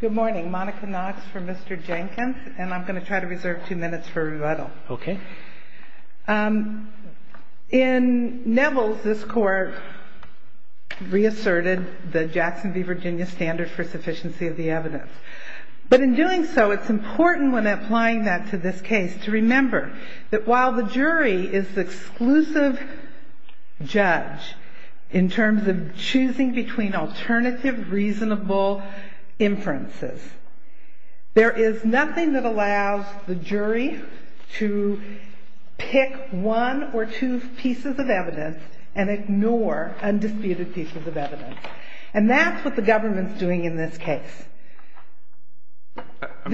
Good morning, Monica Knox for Mr. Jenkins, and I'm going to try to reserve two minutes for rebuttal. Okay. In Neville's, this court reasserted the Jackson v. Virginia standard for sufficiency of the evidence. But in doing so, it's important when applying that to this case to remember that while the jury is the exclusive judge in terms of choosing between alternative reasonable inferences, there is nothing that allows the jury to pick one or two pieces of evidence and ignore undisputed pieces of evidence. And that's what the government's doing in this case. I'm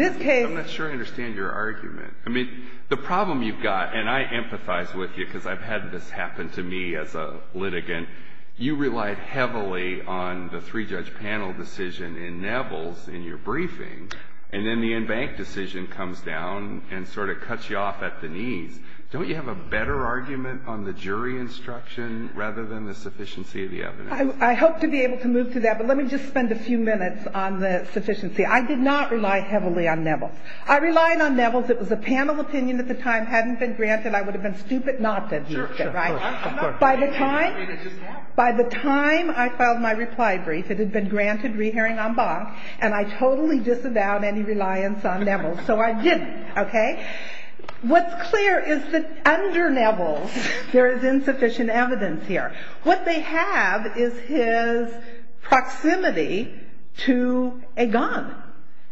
not sure I understand your argument. I mean, the problem you've got, and I empathize with you because I've had this happen to me as a litigant, you relied heavily on the three-judge panel decision in Neville's in your briefing, and then the in-bank decision comes down and sort of cuts you off at the knees. Don't you have a better argument on the jury instruction rather than the sufficiency of the evidence? I hope to be able to move to that, but let me just spend a few minutes on the sufficiency. I did not rely heavily on Neville's. I relied on Neville's. It was a panel opinion at the time, hadn't been granted. I would have been stupid not to have used it. Sure, sure. By the time I filed my reply brief, it had been granted re-hearing en banc, and I totally disavowed any reliance on Neville's, so I didn't. Okay? What's clear is that under Neville's, there is insufficient evidence here. What they have is his proximity to a gun.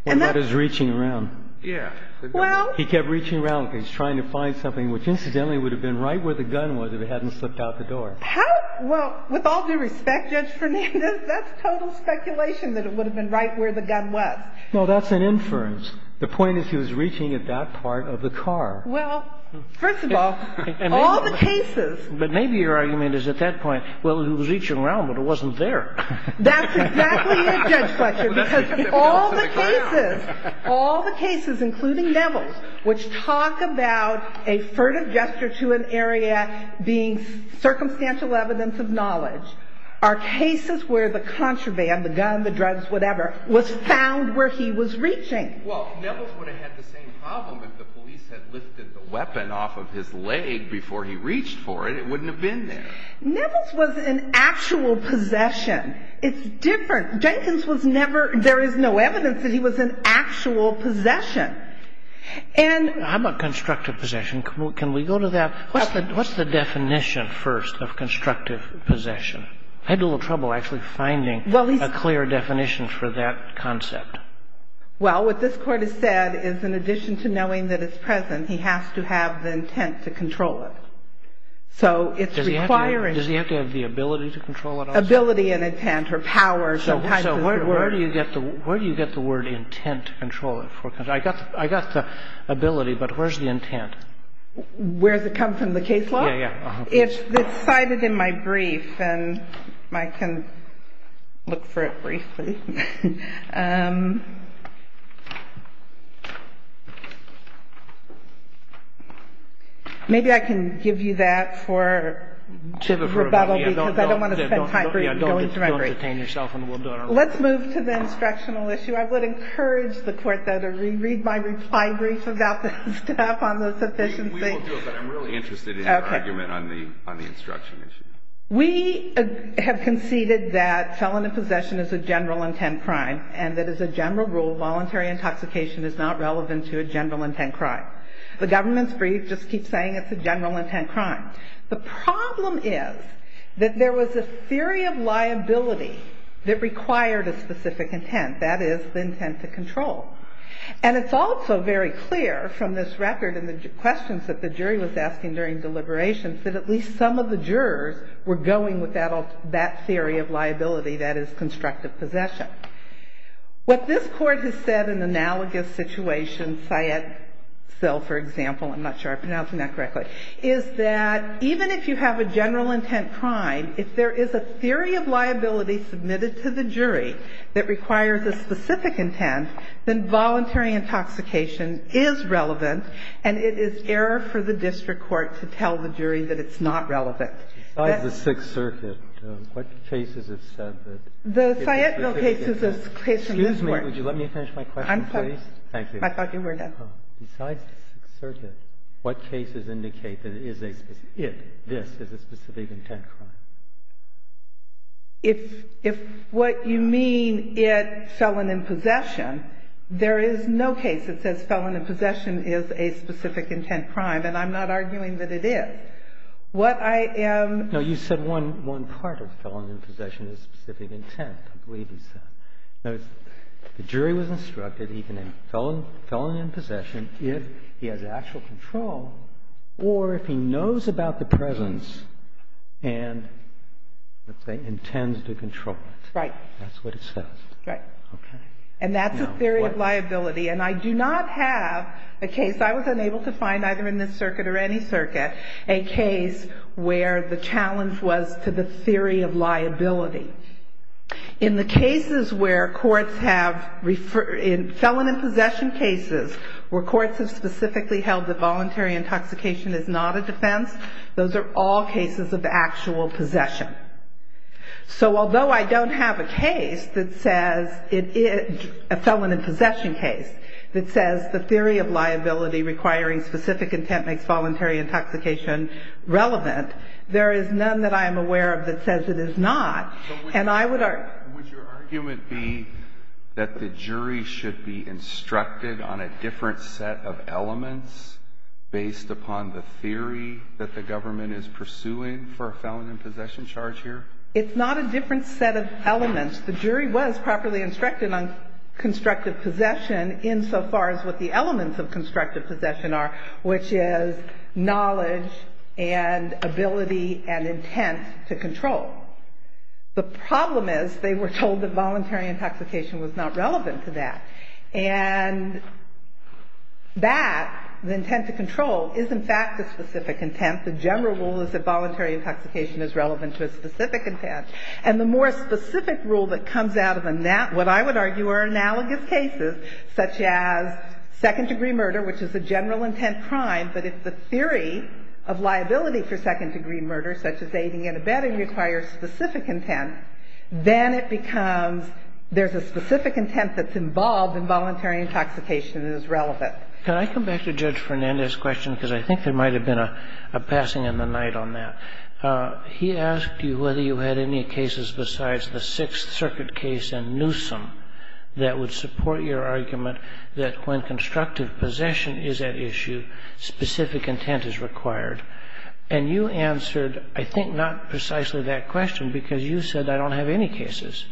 And that is reaching around. Yeah. Well. He kept reaching around because he was trying to find something which, incidentally, would have been right where the gun was if it hadn't slipped out the door. How? Well, with all due respect, Judge Fernandez, that's total speculation that it would have been right where the gun was. No, that's an inference. The point is he was reaching at that part of the car. Well, first of all, all the cases. But maybe your argument is at that point, well, he was reaching around, but it wasn't That's exactly it, Judge Fletcher, because all the cases, all the cases, including Neville's, which talk about a furtive gesture to an area being circumstantial evidence of knowledge, are cases where the contraband, the gun, the drugs, whatever, was found where he was reaching. Well, Neville's would have had the same problem if the police had lifted the weapon off of his leg before he reached for it. It wouldn't have been there. Neville's was an actual possession. It's different. Jenkins was never, there is no evidence that he was an actual possession. How about constructive possession? Can we go to that? What's the definition first of constructive possession? I had a little trouble actually finding a clear definition for that concept. Well, what this Court has said is in addition to knowing that it's present, he has to have the intent to control it. So it's requiring... Does he have to have the ability to control it also? Ability and intent or power, sometimes is the word. So where do you get the word intent to control it? I got the ability, but where's the intent? Where does it come from? The case law? Yeah, yeah. It's cited in my brief, and I can look for it briefly. Maybe I can give you that for rebuttal, because I don't want to spend time going through my brief. Let's move to the instructional issue. I would encourage the Court, though, to read my reply brief about this stuff on the sufficiency. We will do it, but I'm really interested in your argument on the instruction issue. We have conceded that felon in possession is a general intent. And that as a general rule, voluntary intoxication is not relevant to a general intent crime. The government's brief just keeps saying it's a general intent crime. The problem is that there was a theory of liability that required a specific intent. That is, the intent to control. And it's also very clear from this record and the questions that the jury was asking during deliberations that at least some of the jurors were going with that theory of liability, that is, constructive possession. What this Court has said in the analogous situation, Syed-Sil, for example, I'm not sure if I'm pronouncing that correctly, is that even if you have a general intent crime, if there is a theory of liability submitted to the jury that requires a specific intent, then voluntary intoxication is relevant, and it is error for the district court to tell the jury that it's not relevant. That's the case. Breyer. Besides the Sixth Circuit, what cases have said that it is a specific intent crime? The Syettville case is a case from this Court. Excuse me. Would you let me finish my question, please? I'm sorry. Thank you. I thought you were done. Besides the Sixth Circuit, what cases indicate that it is a specific intent crime? If what you mean, it felon in possession, there is no case that says felon in possession is a specific intent crime. And I'm not arguing that it is. What I am – No. You said one part of felon in possession is specific intent. I believe you said. Notice the jury was instructed even in felon in possession if he has actual control or if he knows about the presence and, let's say, intends to control it. Right. That's what it says. Right. And that's a theory of liability. And I do not have a case – I was unable to find either in this circuit or any circuit a case where the challenge was to the theory of liability. In the cases where courts have – in felon in possession cases where courts have specifically held that voluntary intoxication is not a defense, those are all cases of actual possession. So although I don't have a case that says – a felon in possession case that says the theory of liability requiring specific intent makes voluntary intoxication relevant, there is none that I am aware of that says it is not. And I would argue – But would your argument be that the jury should be instructed on a different set of elements based upon the theory that the government is pursuing for a felon in possession charge here? It's not a different set of elements. The jury was properly instructed on constructive possession insofar as what the elements of constructive possession are, which is knowledge and ability and intent to control. The problem is they were told that voluntary intoxication was not relevant to that. And that, the intent to control, is in fact a specific intent. The general rule is that voluntary intoxication is relevant to a specific intent. And the more specific rule that comes out of a – what I would argue are analogous cases such as second-degree murder, which is a general intent crime. But if the theory of liability for second-degree murder, such as aiding and abetting, requires specific intent, then it becomes there's a specific intent that's involved in voluntary intoxication and is relevant. Can I come back to Judge Fernandez's question? Because I think there might have been a passing in the night on that. He asked you whether you had any cases besides the Sixth Circuit case and Newsom that would support your argument that when constructive possession is at issue, specific intent is required. And you answered, I think, not precisely that question because you said I don't have any cases.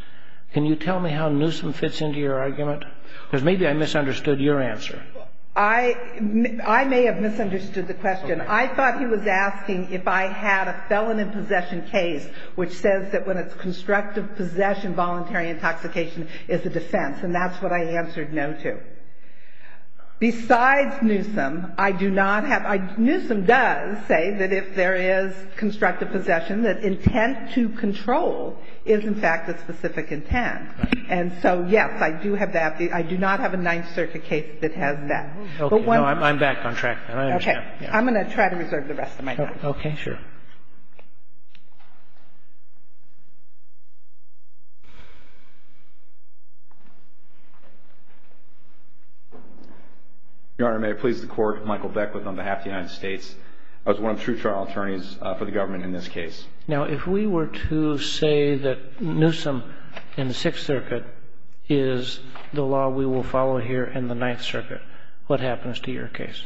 Can you tell me how Newsom fits into your argument? Because maybe I misunderstood your answer. I may have misunderstood the question. I thought he was asking if I had a felon in possession case which says that when it's constructive possession, voluntary intoxication is a defense. And that's what I answered no to. Besides Newsom, I do not have – Newsom does say that if there is constructive possession, that intent to control is, in fact, a specific intent. And so, yes, I do have that. I do not have a Ninth Circuit case that has that. Okay. No, I'm back on track. Okay. I'm going to try to reserve the rest of my time. Okay. Sure. Your Honor, may I please the Court? Michael Beckwith on behalf of the United States. I was one of the true trial attorneys for the government in this case. Now, if we were to say that Newsom in the Sixth Circuit is the law we will follow here in the Ninth Circuit, what happens to your case?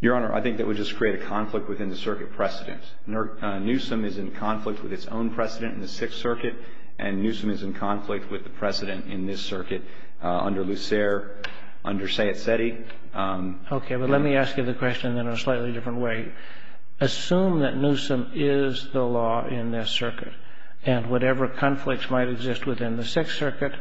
Your Honor, I think that would just create a conflict within the circuit precedent. Newsom is in conflict with its own precedent in the Sixth Circuit, and Newsom is in conflict with the precedent in this circuit under Lucere, under Sayet-Setty. Okay. But let me ask you the question in a slightly different way. Assume that Newsom is the law in this circuit, and whatever conflicts might exist within the Sixth Circuit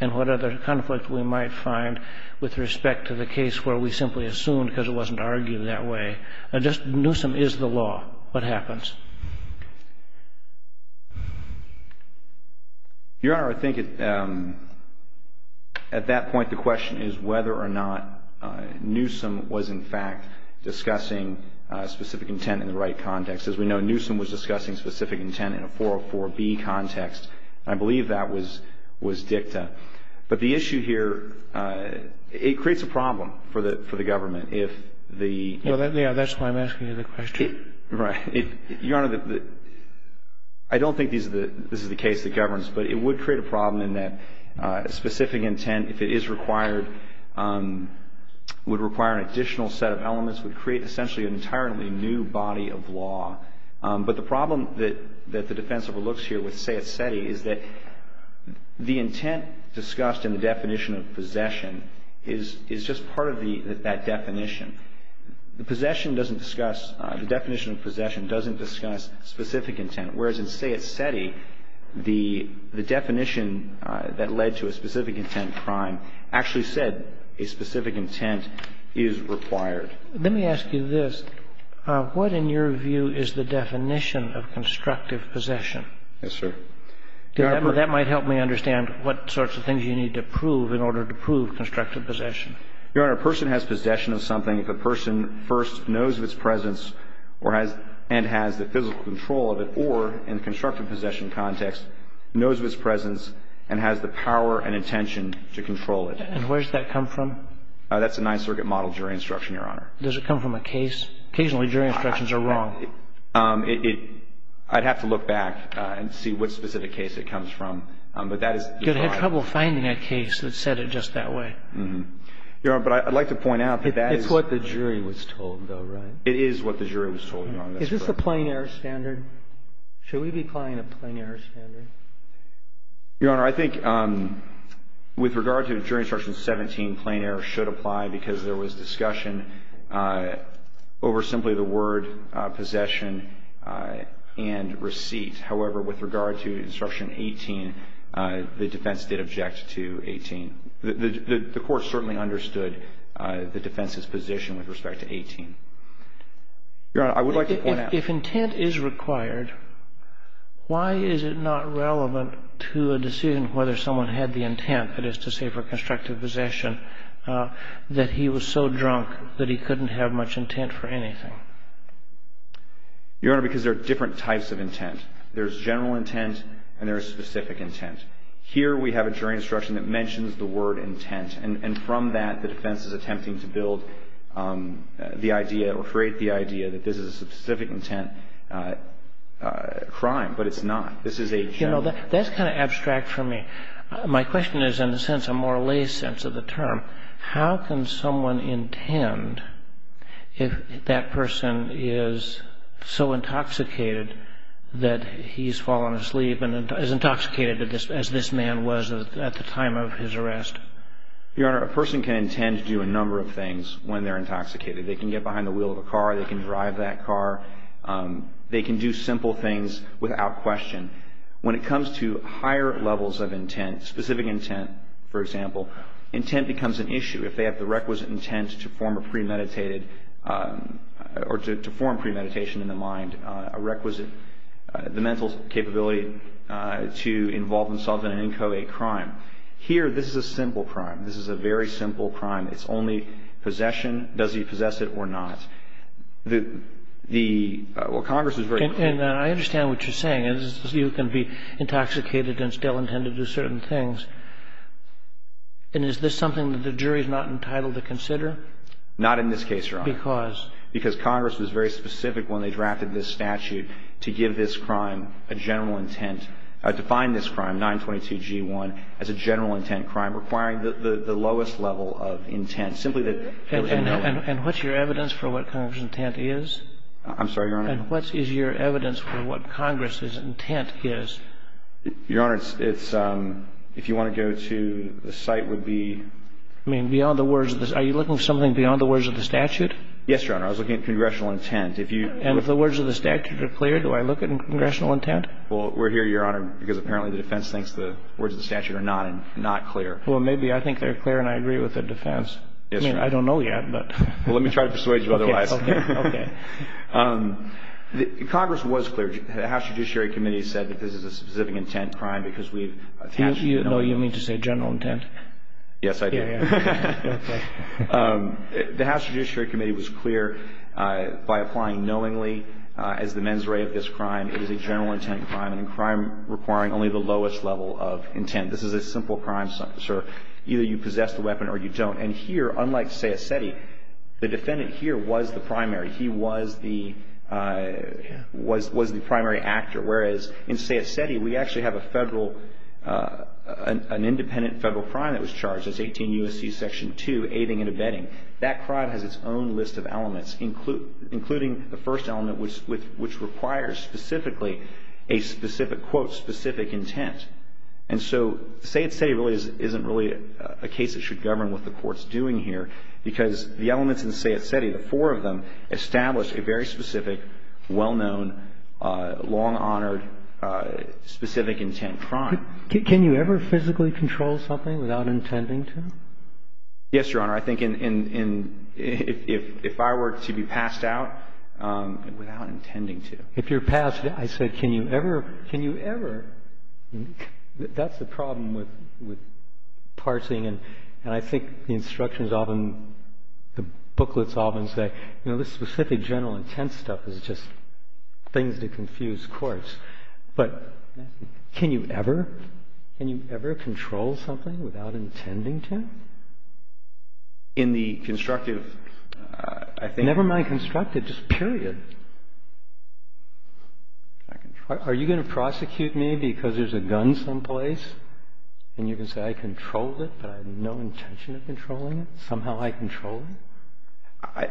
and whatever conflict we might find with respect to the case where we simply assumed because it wasn't argued that way, just Newsom is the law. What happens? Your Honor, I think at that point the question is whether or not Newsom was, in fact, discussing specific intent in the right context. As we know, Newsom was discussing specific intent in a 404B context, and I believe that was dicta. But the issue here, it creates a problem for the government if the ---- Well, that's why I'm asking you the question. Right. Your Honor, I don't think this is the case that governs, but it would create a problem in that specific intent, if it is required, would require an additional set of elements, would create essentially an entirely new body of law. But the problem that the defense overlooks here with Sayet-Setty is that the intent discussed in the definition of possession is just part of that definition. The definition of possession doesn't discuss specific intent, whereas in Sayet-Setty the definition that led to a specific intent crime actually said a specific intent is required. Let me ask you this. What, in your view, is the definition of constructive possession? Yes, sir. That might help me understand what sorts of things you need to prove in order to prove constructive possession. Your Honor, a person has possession of something if a person first knows of its presence and has the physical control of it, or in constructive possession context, knows of its presence and has the power and intention to control it. And where does that come from? That's a Ninth Circuit model jury instruction, Your Honor. Does it come from a case? Occasionally jury instructions are wrong. I'd have to look back and see what specific case it comes from. But that is your problem. You're going to have trouble finding a case that said it just that way. Your Honor, but I'd like to point out that that is... It's what the jury was told, though, right? It is what the jury was told, Your Honor. Is this a plein air standard? Should we be applying a plein air standard? Your Honor, I think with regard to jury instruction 17, plein air should apply because there was discussion over simply the word possession and receipt. However, with regard to instruction 18, the defense did object to 18. The court certainly understood the defense's position with respect to 18. Your Honor, I would like to point out... If intent is required, why is it not relevant to a decision whether someone had the intent, that is to say for constructive possession, that he was so drunk that he couldn't have much intent for anything? Your Honor, because there are different types of intent. There's general intent and there's specific intent. Here we have a jury instruction that mentions the word intent. And from that, the defense is attempting to build the idea or create the idea that this is a specific intent crime, but it's not. This is a general... You know, that's kind of abstract for me. My question is in a sense a more lay sense of the term. How can someone intend if that person is so intoxicated that he's fallen asleep and is intoxicated as this man was at the time of his arrest? Your Honor, a person can intend to do a number of things when they're intoxicated. They can get behind the wheel of a car. They can drive that car. They can do simple things without question. When it comes to higher levels of intent, specific intent, for example, intent becomes an issue. If they have the requisite intent to form a premeditated or to form premeditation in the mind, a requisite, the mental capability to involve themselves in an inchoate crime. Here, this is a simple crime. This is a very simple crime. It's only possession. Does he possess it or not? The... Well, Congress is very... And I understand what you're saying. You can be intoxicated and still intend to do certain things. And is this something that the jury is not entitled to consider? Not in this case, Your Honor. Because? Because Congress was very specific when they drafted this statute to give this crime a general intent, define this crime, 922G1, as a general intent crime requiring the lowest level of intent, simply that... And what's your evidence for what Congress' intent is? I'm sorry, Your Honor? And what is your evidence for what Congress' intent is? Your Honor, it's... If you want to go to... The site would be... I mean, beyond the words of the... Are you looking for something beyond the words of the statute? Yes, Your Honor. I was looking at congressional intent. If you... And if the words of the statute are clear, do I look at congressional intent? Well, we're here, Your Honor, because apparently the defense thinks the words of the statute are not clear. Well, maybe I think they're clear and I agree with the defense. I mean, I don't know yet, but... Well, let me try to persuade you otherwise. Okay, okay, okay. Congress was clear. The House Judiciary Committee said that this is a specific intent crime because we have... No, you mean to say general intent? Yes, I do. Yes, yes. Go ahead. The House Judiciary Committee was clear by applying knowingly as the mens rea of this crime, it is a general intent crime and a crime requiring only the lowest level of intent. This is a simple crime, sir. Either you possess the weapon or you don't. And here, unlike Sayat-Seti, the defendant here was the primary. He was the primary actor, whereas in Sayat-Seti, we actually have a federal, an independent federal crime that was charged. It's 18 U.S.C. Section 2, aiding and abetting. That crime has its own list of elements, including the first element, which requires specifically a specific, quote, specific intent. And so Sayat-Seti really isn't really a case that should govern what the Court's doing here because the elements in Sayat-Seti, the four of them, establish a very specific, well-known, long-honored, specific intent crime. Can you ever physically control something without intending to? Yes, Your Honor. I think if I were to be passed out without intending to. If you're passed out, I said, can you ever, can you ever? That's the problem with parsing, and I think the instructions often, the booklets often say, you know, this specific, general intent stuff is just things to confuse courts. But can you ever, can you ever control something without intending to? In the constructive, I think. Never mind constructive, just period. Are you going to prosecute me because there's a gun someplace, and you're going to say I controlled it, but I had no intention of controlling it? Somehow I controlled it?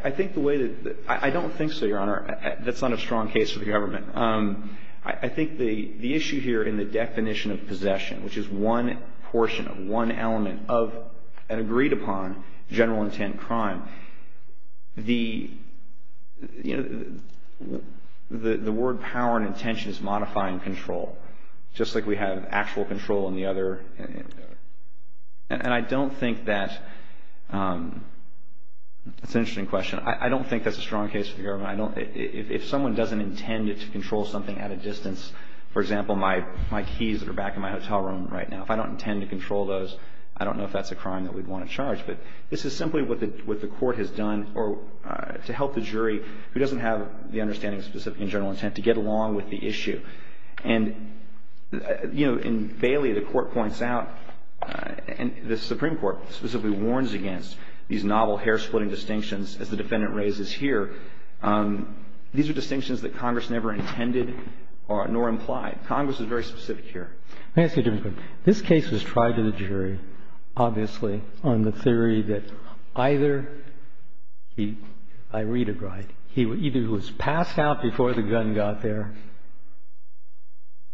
I think the way that, I don't think so, Your Honor. That's not a strong case for the government. I think the issue here in the definition of possession, which is one portion, one element of an agreed upon general intent crime, the, you know, the word power and intention is modifying control, just like we have actual control in the other. And I don't think that, it's an interesting question. I don't think that's a strong case for the government. I don't, if someone doesn't intend to control something at a distance, for example, my keys that are back in my hotel room right now, if I don't intend to control those, I don't know if that's a crime that we'd want to charge. But this is simply what the Court has done to help the jury who doesn't have the understanding of specific and general intent to get along with the issue. And, you know, in Bailey, the Court points out, and the Supreme Court specifically warns against these novel hair-splitting distinctions, as the defendant raises here. These are distinctions that Congress never intended nor implied. Congress is very specific here. Roberts. Let me ask you a different question. This case was tried to the jury, obviously, on the theory that either he, I read it right, either he was passed out before the gun got there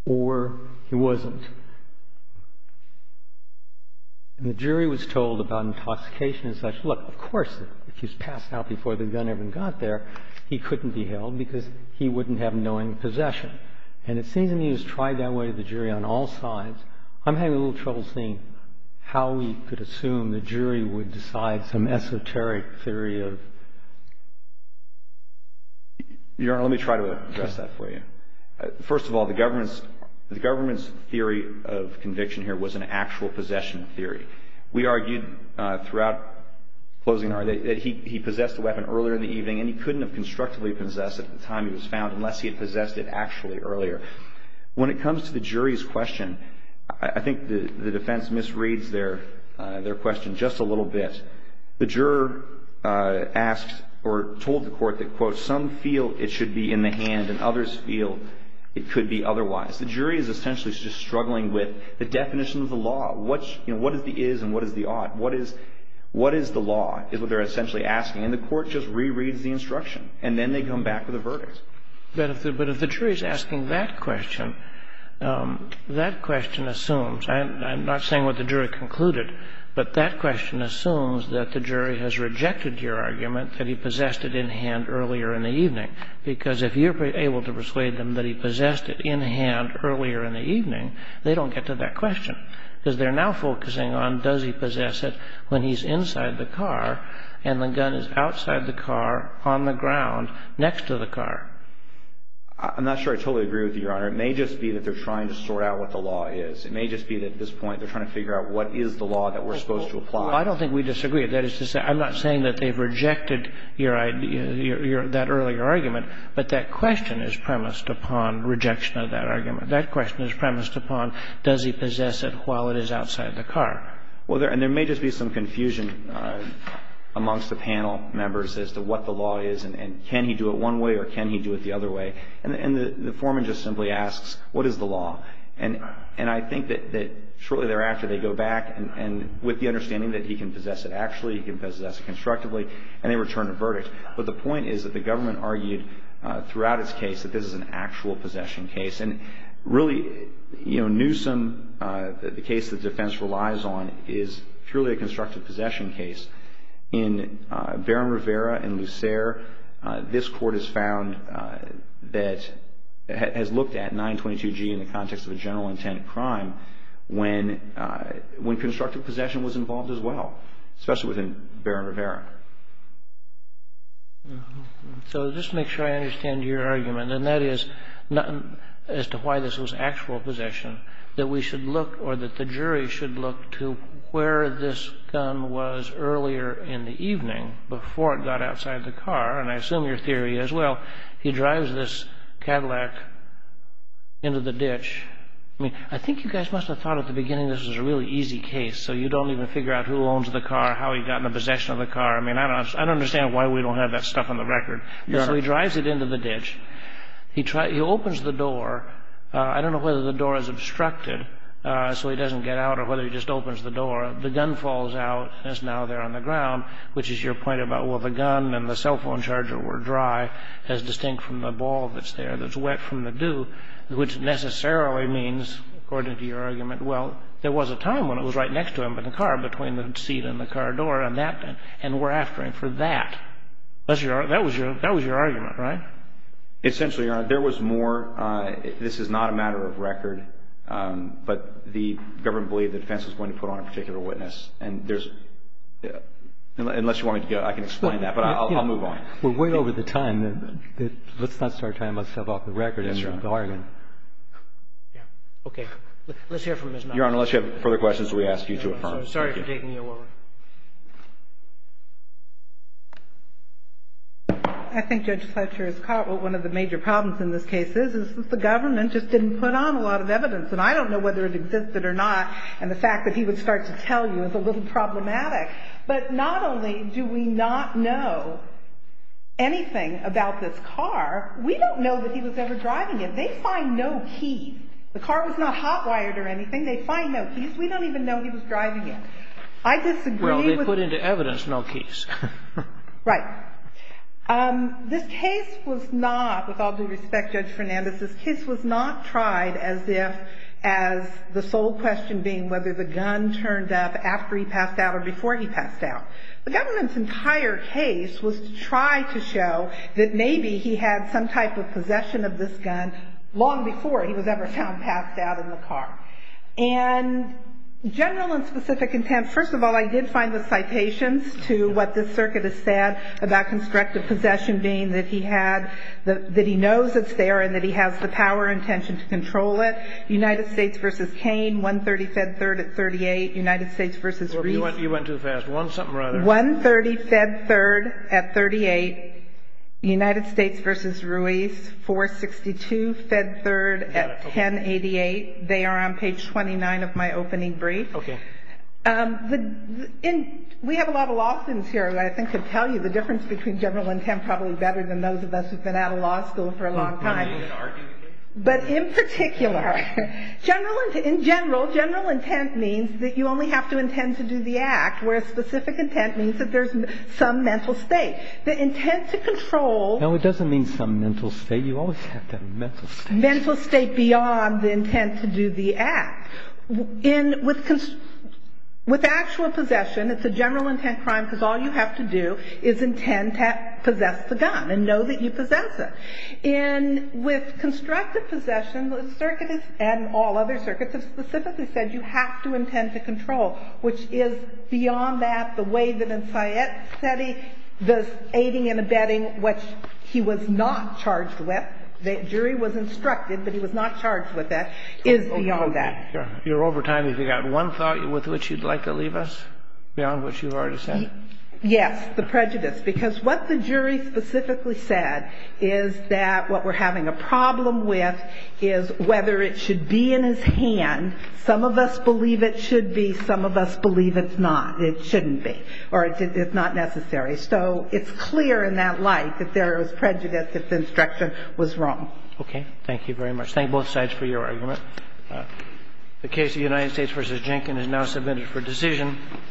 or he wasn't. And the jury was told about intoxication and such. Look, of course, if he was passed out before the gun even got there, he couldn't be held because he wouldn't have knowing possession. And it seems that he has tried that way to the jury on all sides. I'm having a little trouble seeing how we could assume the jury would decide some esoteric theory of. Your Honor, let me try to address that for you. First of all, the government's theory of conviction here was an actual possession theory. We argued throughout closing that he possessed a weapon earlier in the evening, and he couldn't have constructively possessed it at the time he was found unless he had possessed it actually earlier. When it comes to the jury's question, I think the defense misreads their question just a little bit. The juror asked or told the court that, quote, some feel it should be in the hand and others feel it could be otherwise. The jury is essentially just struggling with the definition of the law. What is the is and what is the ought? What is the law is what they're essentially asking. And the court just rereads the instruction. And then they come back with a verdict. But if the jury is asking that question, that question assumes, and I'm not saying what the jury concluded, but that question assumes that the jury has rejected your argument that he possessed it in hand earlier in the evening. Because if you're able to persuade them that he possessed it in hand earlier in the evening, they don't get to that question. Because they're now focusing on does he possess it when he's inside the car and the outside the car, on the ground, next to the car. I'm not sure I totally agree with you, Your Honor. It may just be that they're trying to sort out what the law is. It may just be that at this point they're trying to figure out what is the law that we're supposed to apply. I don't think we disagree. That is to say, I'm not saying that they've rejected your idea, that earlier argument, but that question is premised upon rejection of that argument. That question is premised upon does he possess it while it is outside the car. Well, there may just be some confusion amongst the panel members as to what the law is and can he do it one way or can he do it the other way. And the foreman just simply asks, what is the law? And I think that shortly thereafter they go back and with the understanding that he can possess it actually, he can possess it constructively, and they return a verdict. But the point is that the government argued throughout its case that this is an actual possession case. And really, you know, Newsom, the case that defense relies on, is truly a constructive possession case. In Barron-Rivera and Lucere, this court has found that, has looked at 922G in the context of a general intent crime when constructive possession was involved as well, especially within Barron-Rivera. So just to make sure I understand your argument, and that is as to why this was actual possession, that we should look or that the jury should look to where this gun was earlier in the evening before it got outside the car. And I assume your theory is, well, he drives this Cadillac into the ditch. I mean, I think you guys must have thought at the beginning this was a really easy case so you don't even figure out who owns the car, how he got in the possession of the car. I mean, I don't understand why we don't have that stuff on the record. So he drives it into the ditch. He opens the door. I don't know whether the door is obstructed so he doesn't get out or whether he just opens the door. The gun falls out and it's now there on the ground, which is your point about, well, the gun and the cell phone charger were dry, as distinct from the ball that's there that's wet from the dew, which necessarily means, according to your argument, well, there was a time when it was right next to him in the car, between the seat and the car door, and we're after him for that. That was your argument, right? Essentially, Your Honor, there was more. This is not a matter of record, but the government believed the defense was going to put on a particular witness, and there's unless you want me to go, I can explain that, but I'll move on. Well, way over the time, let's not start talking about stuff off the record. Yes, Your Honor. Okay. Let's hear from Ms. Knox. Your Honor, unless you have further questions, we ask you to affirm. Thank you. I'm sorry for taking you away. I think Judge Fletcher has caught what one of the major problems in this case is, is that the government just didn't put on a lot of evidence. And I don't know whether it existed or not, and the fact that he would start to tell you is a little problematic. But not only do we not know anything about this car, we don't know that he was ever driving it. They find no key. The car was not hot-wired or anything. They find no keys. We don't even know he was driving it. I disagree with the ---- Well, they put into evidence no keys. Right. This case was not, with all due respect, Judge Fernandez, this case was not tried as if as the sole question being whether the gun turned up after he passed out or before he passed out. The government's entire case was to try to show that maybe he had some type of possession of this gun long before he was ever found passed out in the car. And general and specific contempt, first of all, I did find the citations to what the circuit has said about constructive possession being that he had, that he knows it's there and that he has the power and intention to control it. United States v. Cain, 130 fed third at 38. United States v. Ruiz. You went too fast. One something or other. 130 fed third at 38. United States v. Ruiz, 462 fed third at 1088. They are on page 29 of my opening brief. Okay. We have a lot of law students here that I think could tell you the difference between general intent probably better than those of us who have been out of law school for a long time. But in particular, in general, general intent means that you only have to intend to do the act. General intent means that there's some mental state. The intent to control. No, it doesn't mean some mental state. You always have to have a mental state. Mental state beyond the intent to do the act. With actual possession, it's a general intent crime because all you have to do is intend to possess the gun and know that you possess it. And with constructive possession, the circuit and all other circuits have specifically said you have to intend to control, which is beyond that, the way that in Syed's study, the aiding and abetting, which he was not charged with, the jury was instructed, but he was not charged with that, is beyond that. You're over time. Have you got one thought with which you'd like to leave us beyond what you've already said? Yes. The prejudice. Because what the jury specifically said is that what we're having a problem with is whether it should be in his hand. Some of us believe it should be. Some of us believe it's not. It shouldn't be. Or it's not necessary. So it's clear in that light that there was prejudice, that the instruction was wrong. Okay. Thank you very much. Thank both sides for your argument. The case of United States v. Jenkins is now submitted for decision.